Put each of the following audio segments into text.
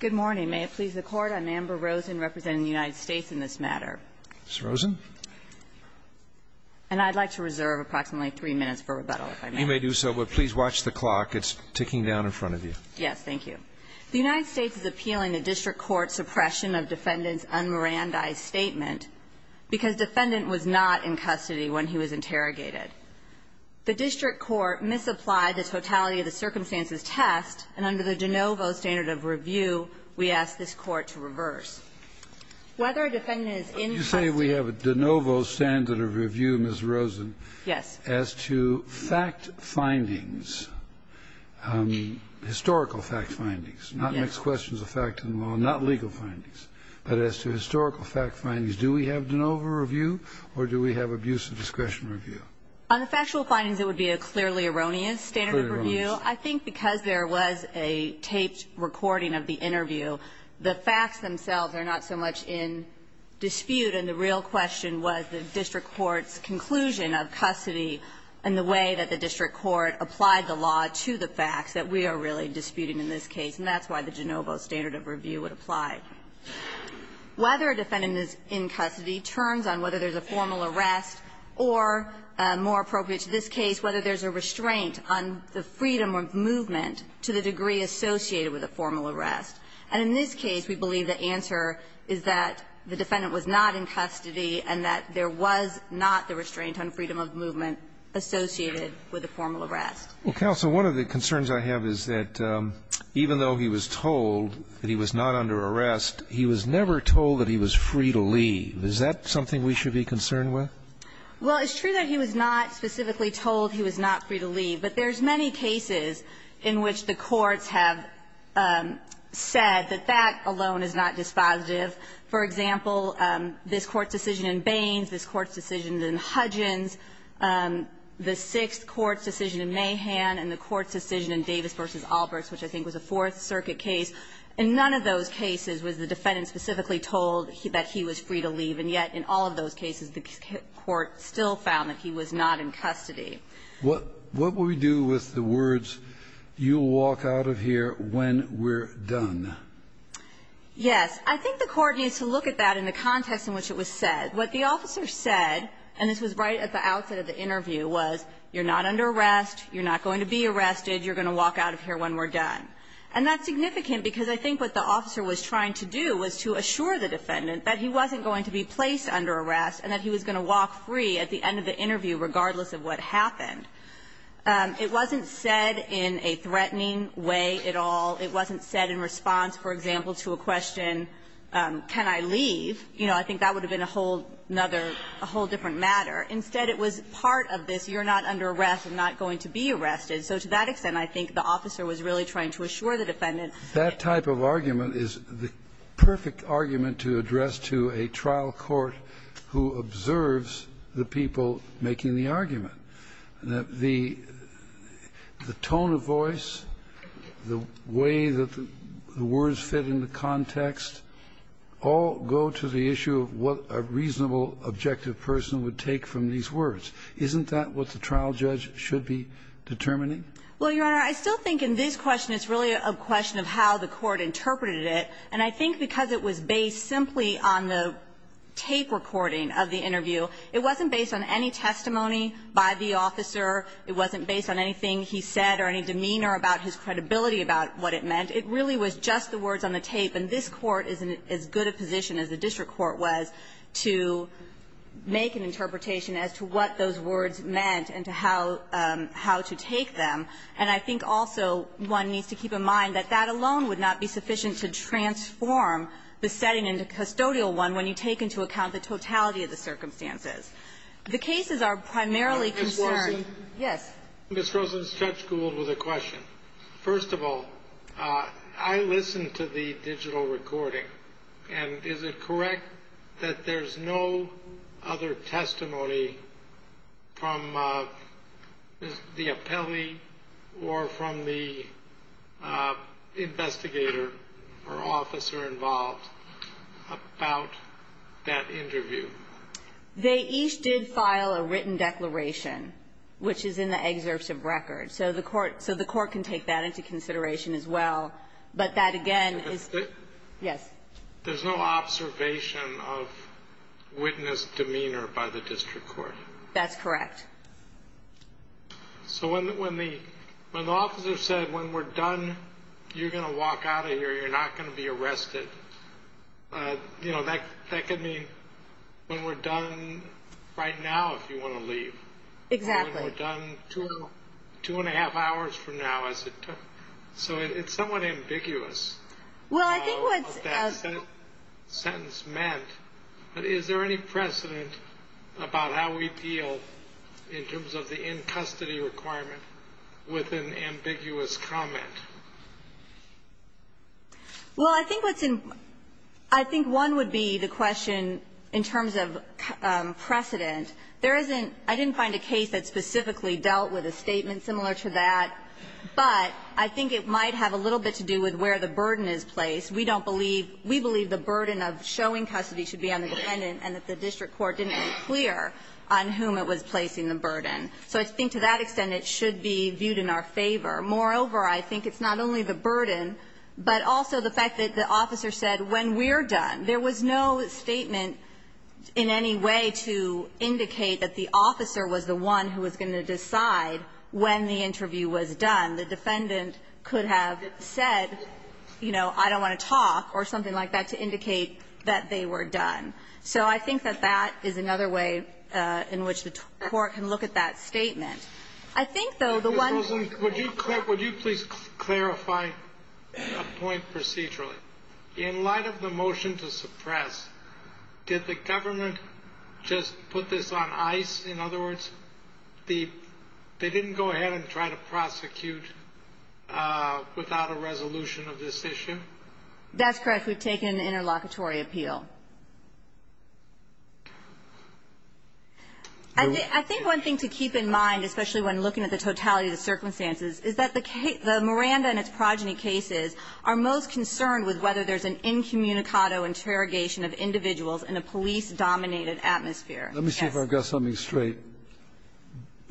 Good morning. May it please the Court, I'm Amber Rosen representing the United States in this matter. Ms. Rosen? And I'd like to reserve approximately three minutes for rebuttal, if I may. You may do so, but please watch the clock. It's ticking down in front of you. Yes, thank you. The United States is appealing a District Court suppression of Defendant's and Morandi's statement because Defendant was not in custody when he was interrogated. The District Court misapplied the totality of the circumstances test, and under the de novo standard of review, we ask this Court to reverse. Whether a Defendant is in custody Would you say we have a de novo standard of review, Ms. Rosen? Yes. As to fact findings, historical fact findings, not mixed questions of fact and law, not legal findings, but as to historical fact findings, do we have de novo review or do we have abusive discretion review? On the factual findings, it would be a clearly erroneous standard of review. I think because there was a taped recording of the interview, the facts themselves are not so much in dispute, and the real question was the District Court's conclusion of custody and the way that the District Court applied the law to the facts that we are really Whether a Defendant is in custody turns on whether there's a formal arrest or, more appropriate to this case, whether there's a restraint on the freedom of movement to the degree associated with a formal arrest. And in this case, we believe the answer is that the Defendant was not in custody and that there was not the restraint on freedom of movement associated with a formal arrest. Well, Counsel, one of the concerns I have is that even though he was told that he was not under arrest, he was never told that he was free to leave. Is that something we should be concerned with? Well, it's true that he was not specifically told he was not free to leave, but there's many cases in which the courts have said that that alone is not dispositive. For example, this Court's decision in Baines, this Court's decision in Hudgins, the Sixth Court's decision in Mahan, and the Court's decision in Davis v. Alberts, which I think was a Fourth Circuit case, in none of those cases was the Defendant specifically told that he was free to leave, and yet in all of those cases the Court still found that he was not in custody. What will we do with the words, You'll walk out of here when we're done? Yes. I think the Court needs to look at that in the context in which it was said. What the officer said, and this was right at the outset of the interview, was you're not under arrest, you're not going to be arrested, you're going to walk out of here when we're done. And that's significant, because I think what the officer was trying to do was to assure the Defendant that he wasn't going to be placed under arrest and that he was going to walk free at the end of the interview, regardless of what happened. It wasn't said in a threatening way at all. It wasn't said in response, for example, to a question, can I leave? You know, I think that would have been a whole other, a whole different matter. Instead, it was part of this, you're not under arrest, I'm not going to be arrested. So to that extent, I think the officer was really trying to assure the Defendant that he was not going to be arrested. That type of argument is the perfect argument to address to a trial court who observes the people making the argument, that the tone of voice, the way that the words fit in the context, all go to the issue of what a reasonable, objective person would take from these words. Isn't that what the trial judge should be determining? Well, Your Honor, I still think in this question, it's really a question of how the court interpreted it. And I think because it was based simply on the tape recording of the interview, it wasn't based on any testimony by the officer. It wasn't based on anything he said or any demeanor about his credibility about what it meant. It really was just the words on the tape. And this Court is in as good a position as the district court was to make an interpretation as to what those words meant and to how to take them. And I think also one needs to keep in mind that that alone would not be sufficient to transform the setting in the custodial one when you take into account the totality of the circumstances. The cases are primarily concerned by the fact that there are no other testimonies in the record. So there's no testimony from the appellee or from the investigator or officer involved about that interview? They each did file a written declaration, which is in the excerpts of record. So the court can take that into consideration as well. But that, again, is... Yes. There's no observation of witness demeanor by the district court. That's correct. So when the officer said, when we're done, you're going to walk out of here. You're not going to be arrested. That could mean when we're done right now if you want to leave. Exactly. Or when we're done two and a half hours from now as it took. So it's somewhat ambiguous. Well, I think what's... What that sentence meant. Is there any precedent about how we deal in terms of the in-custody requirement with an ambiguous comment? Well, I think what's in... I think one would be the question in terms of precedent. There isn't... I didn't find a case that specifically dealt with a statement similar to that. But I think it might have a little bit to do with where the burden is placed. We don't believe we believe the burden of showing custody should be on the defendant and that the district court didn't make clear on whom it was placing the burden. So I think to that extent it should be viewed in our favor. Moreover, I think it's not only the burden, but also the fact that the officer said, when we're done. There was no statement in any way to indicate that the officer was the one who was going to decide when the interview was done. The defendant could have said, you know, I don't want to talk or something like that to indicate that they were done. So I think that that is another way in which the court can look at that statement. I think, though, the one... Ms. Rosen, would you please clarify a point procedurally? In light of the motion to suppress, did the government just put this on ice? In other words, the they didn't go ahead and try to prosecute without a resolution of this issue? That's correct. We've taken an interlocutory appeal. I think one thing to keep in mind, especially when looking at the totality of the circumstances, is that the Miranda and its progeny cases are most concerned with whether there's an incommunicado interrogation of individuals in a police-dominated atmosphere. Let me see if I've got something straight.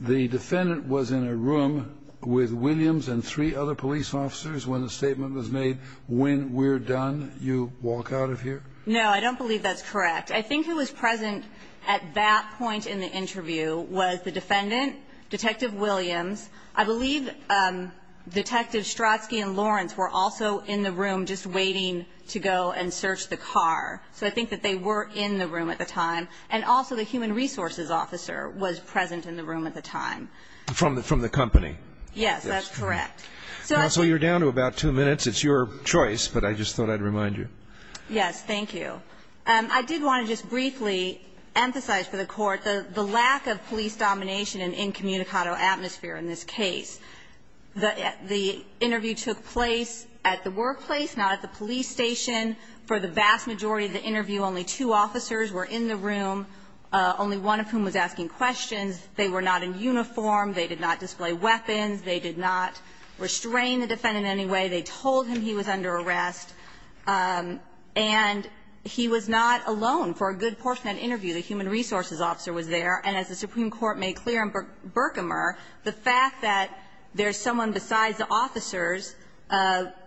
The defendant was in a room with Williams and three other police officers when the statement was made, when we're done, you walk out of here? No, I don't believe that's correct. I think who was present at that point in the interview was the defendant, Detective Williams. I believe Detective Strotsky and Lawrence were also in the room just waiting to go and search the car. So I think that they were in the room at the time. And also the human resources officer was present in the room at the time. From the company? Yes, that's correct. Counsel, you're down to about two minutes. It's your choice, but I just thought I'd remind you. Yes, thank you. I did want to just briefly emphasize for the Court the lack of police domination in an incommunicado atmosphere in this case. The interview took place at the workplace, not at the police station. For the vast majority of the interview, only two officers were in the room, only one of whom was asking questions. They were not in uniform. They did not display weapons. They did not restrain the defendant in any way. They told him he was under arrest. And he was not alone for a good portion of that interview. The human resources officer was there. And as the Supreme Court made clear in Berkmer, the fact that there's someone besides the officers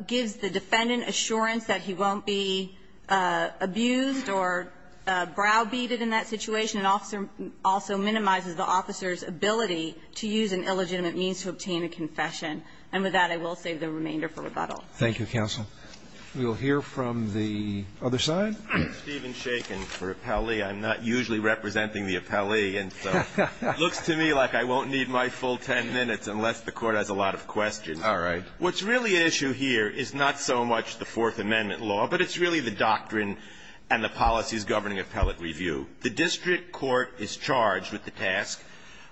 gives the defendant assurance that he won't be abused or browbeated in that situation. An officer also minimizes the officer's ability to use an illegitimate means to obtain a confession. And with that, I will save the remainder for rebuttal. Thank you, counsel. We will hear from the other side. I'm Stephen Shaken for appellee. I'm not usually representing the appellee, and so it looks to me like I won't need my full ten minutes unless the Court has a lot of questions. All right. What's really at issue here is not so much the Fourth Amendment law, but it's really the doctrine and the policies governing appellate review. The district court is charged with the task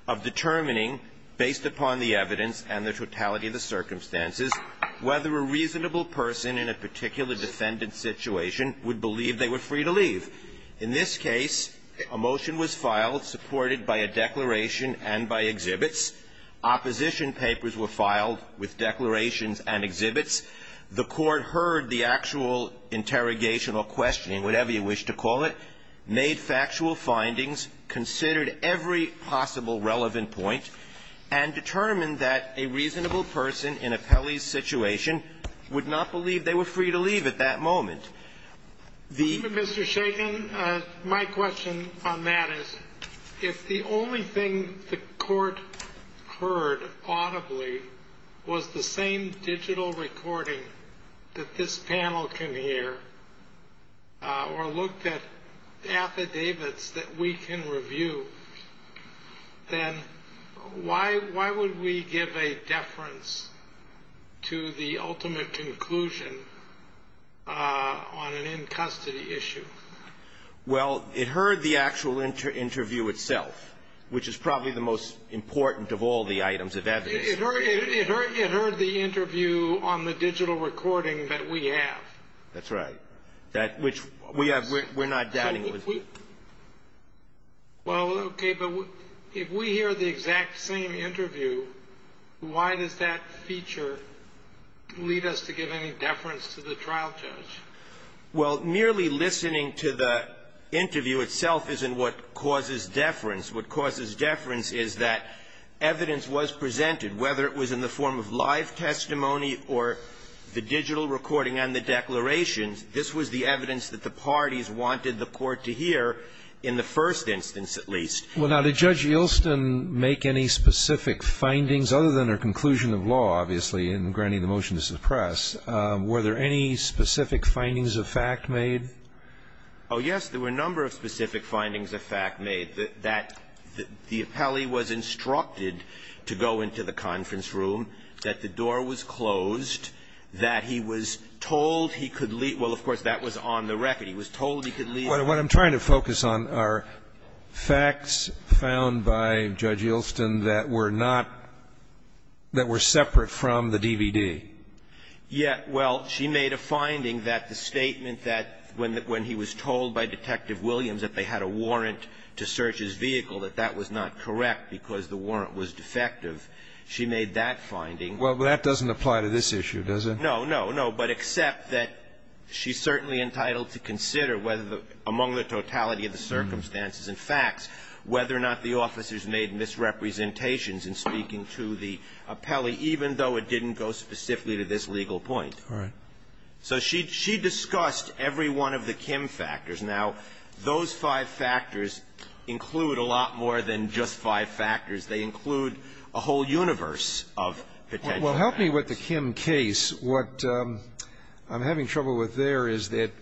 of determining, based upon the evidence and the totality of the circumstances, whether a reasonable person in a particular defendant's situation would believe they were free to leave. In this case, a motion was filed supported by a declaration and by exhibits. Opposition papers were filed with declarations and exhibits. The Court heard the actual interrogation or questioning, whatever you wish to call it, made factual findings, considered every possible relevant point, and determined that a reasonable person in appellee's situation would not believe they were free to leave at that moment. Mr. Shaken, my question on that is, if the only thing the Court heard audibly was the same digital recording that this panel can hear or looked at affidavits that we can on an in-custody issue. Well, it heard the actual interview itself, which is probably the most important of all the items of evidence. It heard the interview on the digital recording that we have. That's right. That which we have. We're not doubting it was. Well, okay. But if we hear the exact same interview, why does that feature lead us to give any trial charge? Well, merely listening to the interview itself isn't what causes deference. What causes deference is that evidence was presented, whether it was in the form of live testimony or the digital recording and the declarations. This was the evidence that the parties wanted the Court to hear, in the first instance at least. Well, now, did Judge Yelston make any specific findings, other than her conclusion of law, obviously, in granting the motion to suppress? Were there any specific findings of fact made? Oh, yes. There were a number of specific findings of fact made, that the appellee was instructed to go into the conference room, that the door was closed, that he was told he could leave. Well, of course, that was on the record. He was told he could leave. What I'm trying to focus on are facts found by Judge Yelston that were not – that were separate from the DVD. Yes. Well, she made a finding that the statement that when he was told by Detective Williams that they had a warrant to search his vehicle, that that was not correct because the warrant was defective. She made that finding. Well, that doesn't apply to this issue, does it? No, no, no. But except that she's certainly entitled to consider whether the – among the totality of the circumstances and facts, whether or not the officers made misrepresentations in speaking to the appellee, even though it didn't go specifically to this legal point. All right. So she discussed every one of the Kim factors. Now, those five factors include a lot more than just five factors. They include a whole universe of potential factors. Well, help me with the Kim case. What I'm having trouble with there is that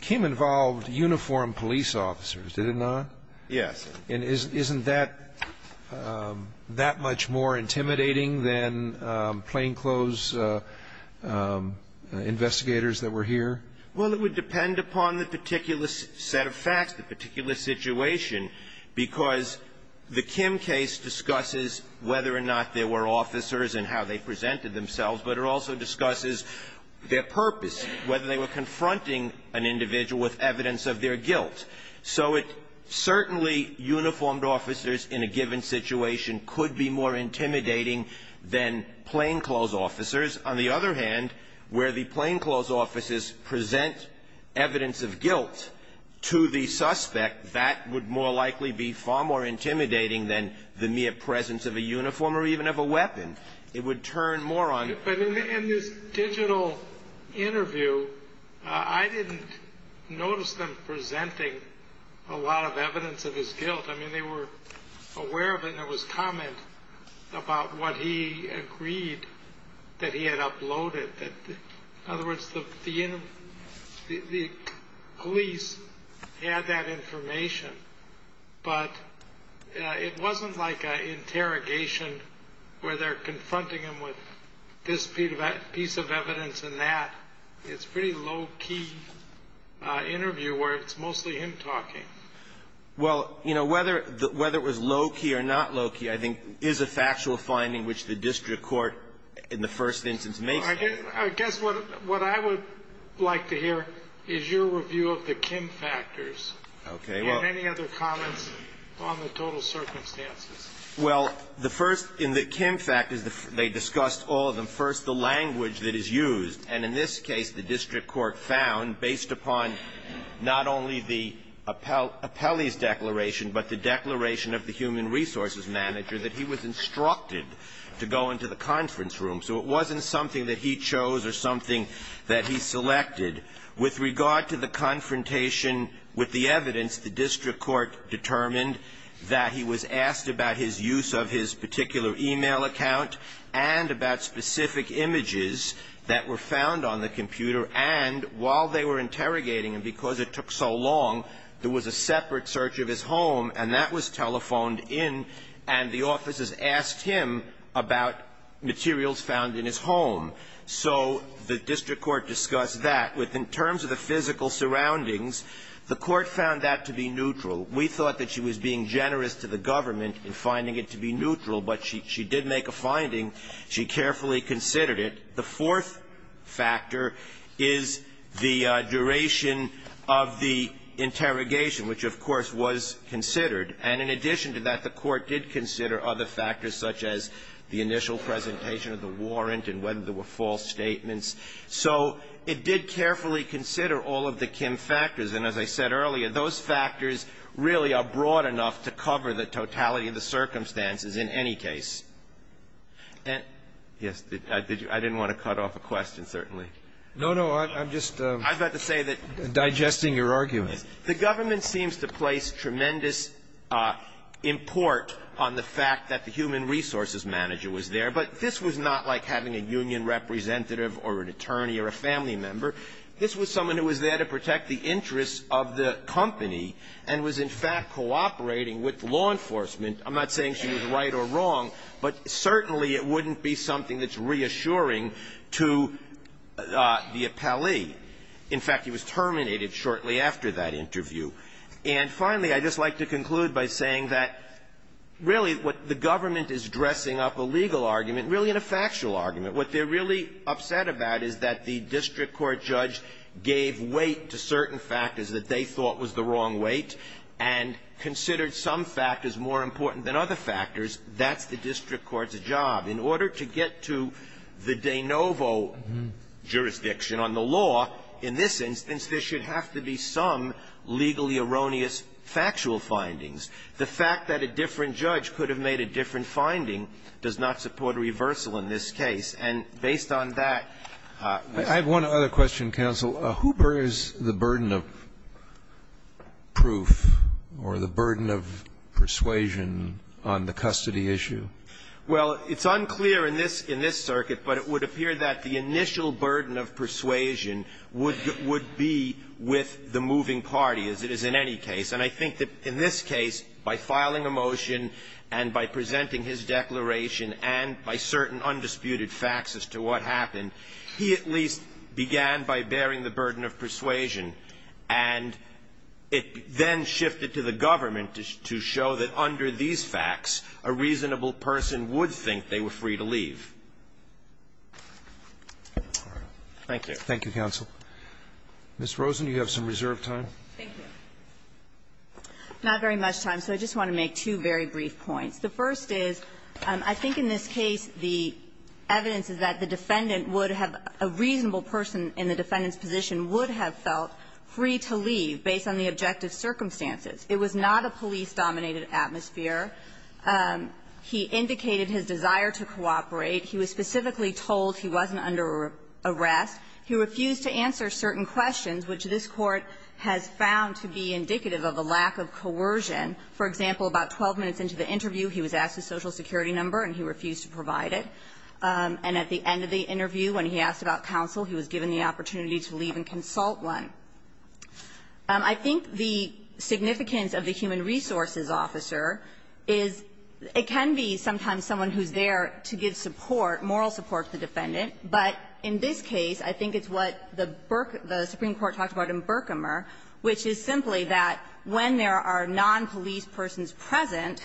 Kim involved uniformed police officers, did it not? Yes. And isn't that that much more intimidating than plainclothes investigators that were here? Well, it would depend upon the particular set of facts, the particular situation, because the Kim case discusses whether or not there were officers and how they presented themselves, but it also discusses their purpose, whether they were confronting an individual with evidence of their guilt. So it – certainly uniformed officers in a given situation could be more intimidating than plainclothes officers. On the other hand, where the plainclothes officers present evidence of guilt to the suspect, that would more likely be far more intimidating than the mere presence of a uniform or even of a weapon. It would turn more on – But in this digital interview, I didn't notice them presenting a lot of evidence of his guilt. I mean, they were aware of it and there was comment about what he agreed that he had uploaded. In other words, the police had that information, but it wasn't like an interrogation where they're confronting him with this piece of evidence and that. It's a pretty low-key interview where it's mostly him talking. Well, you know, whether it was low-key or not low-key I think is a factual finding which the district court in the first instance makes. I guess what I would like to hear is your review of the Kim factors. Okay. Do you have any other comments on the total circumstances? Well, the first in the Kim factors, they discussed all of them. First, the language that is used. And in this case, the district court found, based upon not only the appellee's declaration, but the declaration of the human resources manager, that he was instructed to go into the conference room. So it wasn't something that he chose or something that he selected. With regard to the confrontation with the evidence, the district court determined that he was asked about his use of his particular e-mail account and about specific images that were found on the computer. And while they were interrogating him, because it took so long, there was a separate search of his home, and that was telephoned in, and the officers asked him about materials found in his home. So the district court discussed that. In terms of the physical surroundings, the court found that to be neutral. We thought that she was being generous to the government in finding it to be neutral, but she did make a finding. She carefully considered it. The fourth factor is the duration of the interrogation, which, of course, was considered. And in addition to that, the court did consider other factors, such as the initial presentation of the warrant and whether there were false statements. So it did carefully consider all of the Kim factors. And as I said earlier, those factors really are broad enough to cover the totality of the circumstances in any case. Yes. I didn't want to cut off a question, certainly. No, no. I'm just digesting your argument. The government seems to place tremendous import on the fact that the human resources manager was there, but this was not like having a union representative or an attorney or a family member. This was someone who was there to protect the interests of the company and was in fact cooperating with law enforcement. I'm not saying she was right or wrong, but certainly it wouldn't be something that's reassuring to the appellee. In fact, he was terminated shortly after that interview. And finally, I'd just like to conclude by saying that, really, what the government is dressing up a legal argument really in a factual argument. What they're really upset about is that the district court judge gave weight to certain factors that they thought was the wrong weight and considered some factors more important than other factors. That's the district court's job. In order to get to the de novo jurisdiction on the law, in this instance, there should have to be some legally erroneous factual findings. The fact that a different judge could have made a different finding does not support a reversal in this case. And based on that, this one. Scalia, I have one other question, counsel. Who bears the burden of proof or the burden of persuasion on the custody issue? Well, it's unclear in this circuit, but it would appear that the initial burden of persuasion would be with the moving party, as it is in any case. And I think that in this case, by filing a motion and by presenting his declaration and by certain undisputed facts as to what happened, he at least began by bearing the burden of persuasion. And it then shifted to the government to show that under these facts, a reasonable person would think they were free to leave. Thank you. Thank you, counsel. Ms. Rosen, you have some reserve time. Thank you. Not very much time, so I just want to make two very brief points. The first is, I think in this case, the evidence is that the defendant would have – a reasonable person in the defendant's position would have felt free to leave based on the objective circumstances. It was not a police-dominated atmosphere. He indicated his desire to cooperate. He was specifically told he wasn't under arrest. He refused to answer certain questions, which this Court has found to be indicative of a lack of coercion. For example, about 12 minutes into the interview, he was asked his Social Security number, and he refused to provide it. And at the end of the interview, when he asked about counsel, he was given the opportunity to leave and consult one. I think the significance of the human resources officer is it can be sometimes someone who's there to give support, moral support, to the defendant. But in this case, I think it's what the Burke – the Supreme Court talked about in Berkemer, which is simply that when there are nonpolice persons present,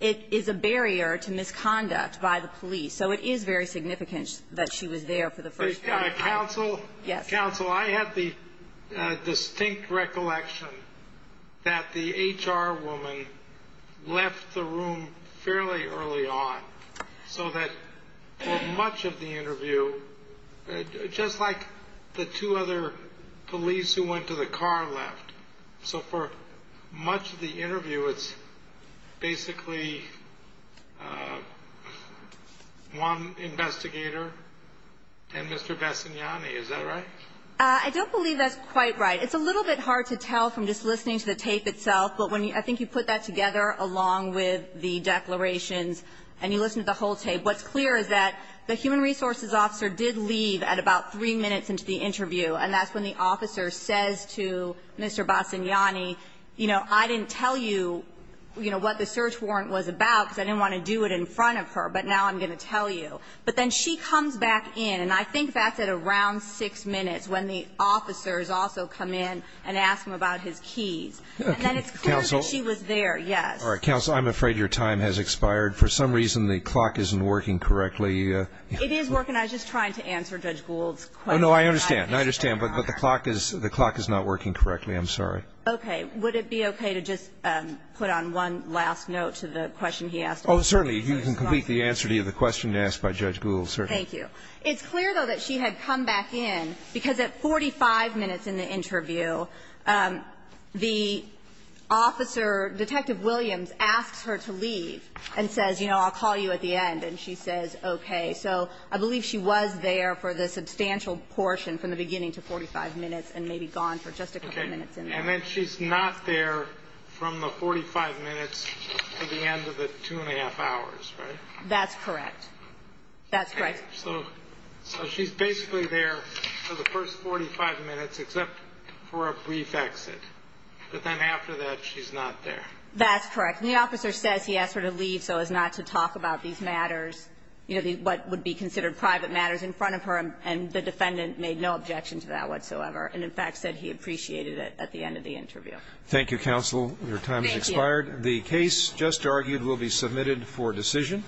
it is a barrier to misconduct by the police. So it is very significant that she was there for the first time. Yes. Counsel, I had the distinct recollection that the HR woman left the room fairly early on, so that for much of the interview, just like the two other police who went to the car left. So for much of the interview, it's basically one investigator and Mr. Bassagnani. Is that right? I don't believe that's quite right. It's a little bit hard to tell from just listening to the tape itself. But when you – I think you put that together along with the declarations and you listen to the whole tape. What's clear is that the human resources officer did leave at about three minutes into the interview, and that's when the officer says to Mr. Bassagnani, you know, I didn't tell you, you know, what the search warrant was about because I didn't want to do it in front of her, but now I'm going to tell you. But then she comes back in, and I think that's at around six minutes when the officers also come in and ask him about his keys. And then it's clear that she was there, yes. All right. Counsel, I'm afraid your time has expired. For some reason, the clock isn't working correctly. It is working. I was just trying to answer Judge Gould's question. Oh, no, I understand. I understand. But the clock is not working correctly. I'm sorry. Okay. Would it be okay to just put on one last note to the question he asked? Oh, certainly. You can complete the answer to the question asked by Judge Gould, certainly. Thank you. It's clear, though, that she had come back in because at 45 minutes in the interview, the officer, Detective Williams, asks her to leave and says, you know, I'll call you at the end. And she says, okay. So I believe she was there for the substantial portion from the beginning to 45 minutes and maybe gone for just a couple minutes in there. Okay. And then she's not there from the 45 minutes to the end of the two and a half hours, right? That's correct. That's correct. So she's basically there for the first 45 minutes except for a brief exit. But then after that, she's not there. That's correct. And the officer says he asked her to leave so as not to talk about these matters, you know, what would be considered private matters in front of her. And the defendant made no objection to that whatsoever and, in fact, said he appreciated it at the end of the interview. Thank you, counsel. Your time has expired. Thank you. The case just argued will be submitted for decision.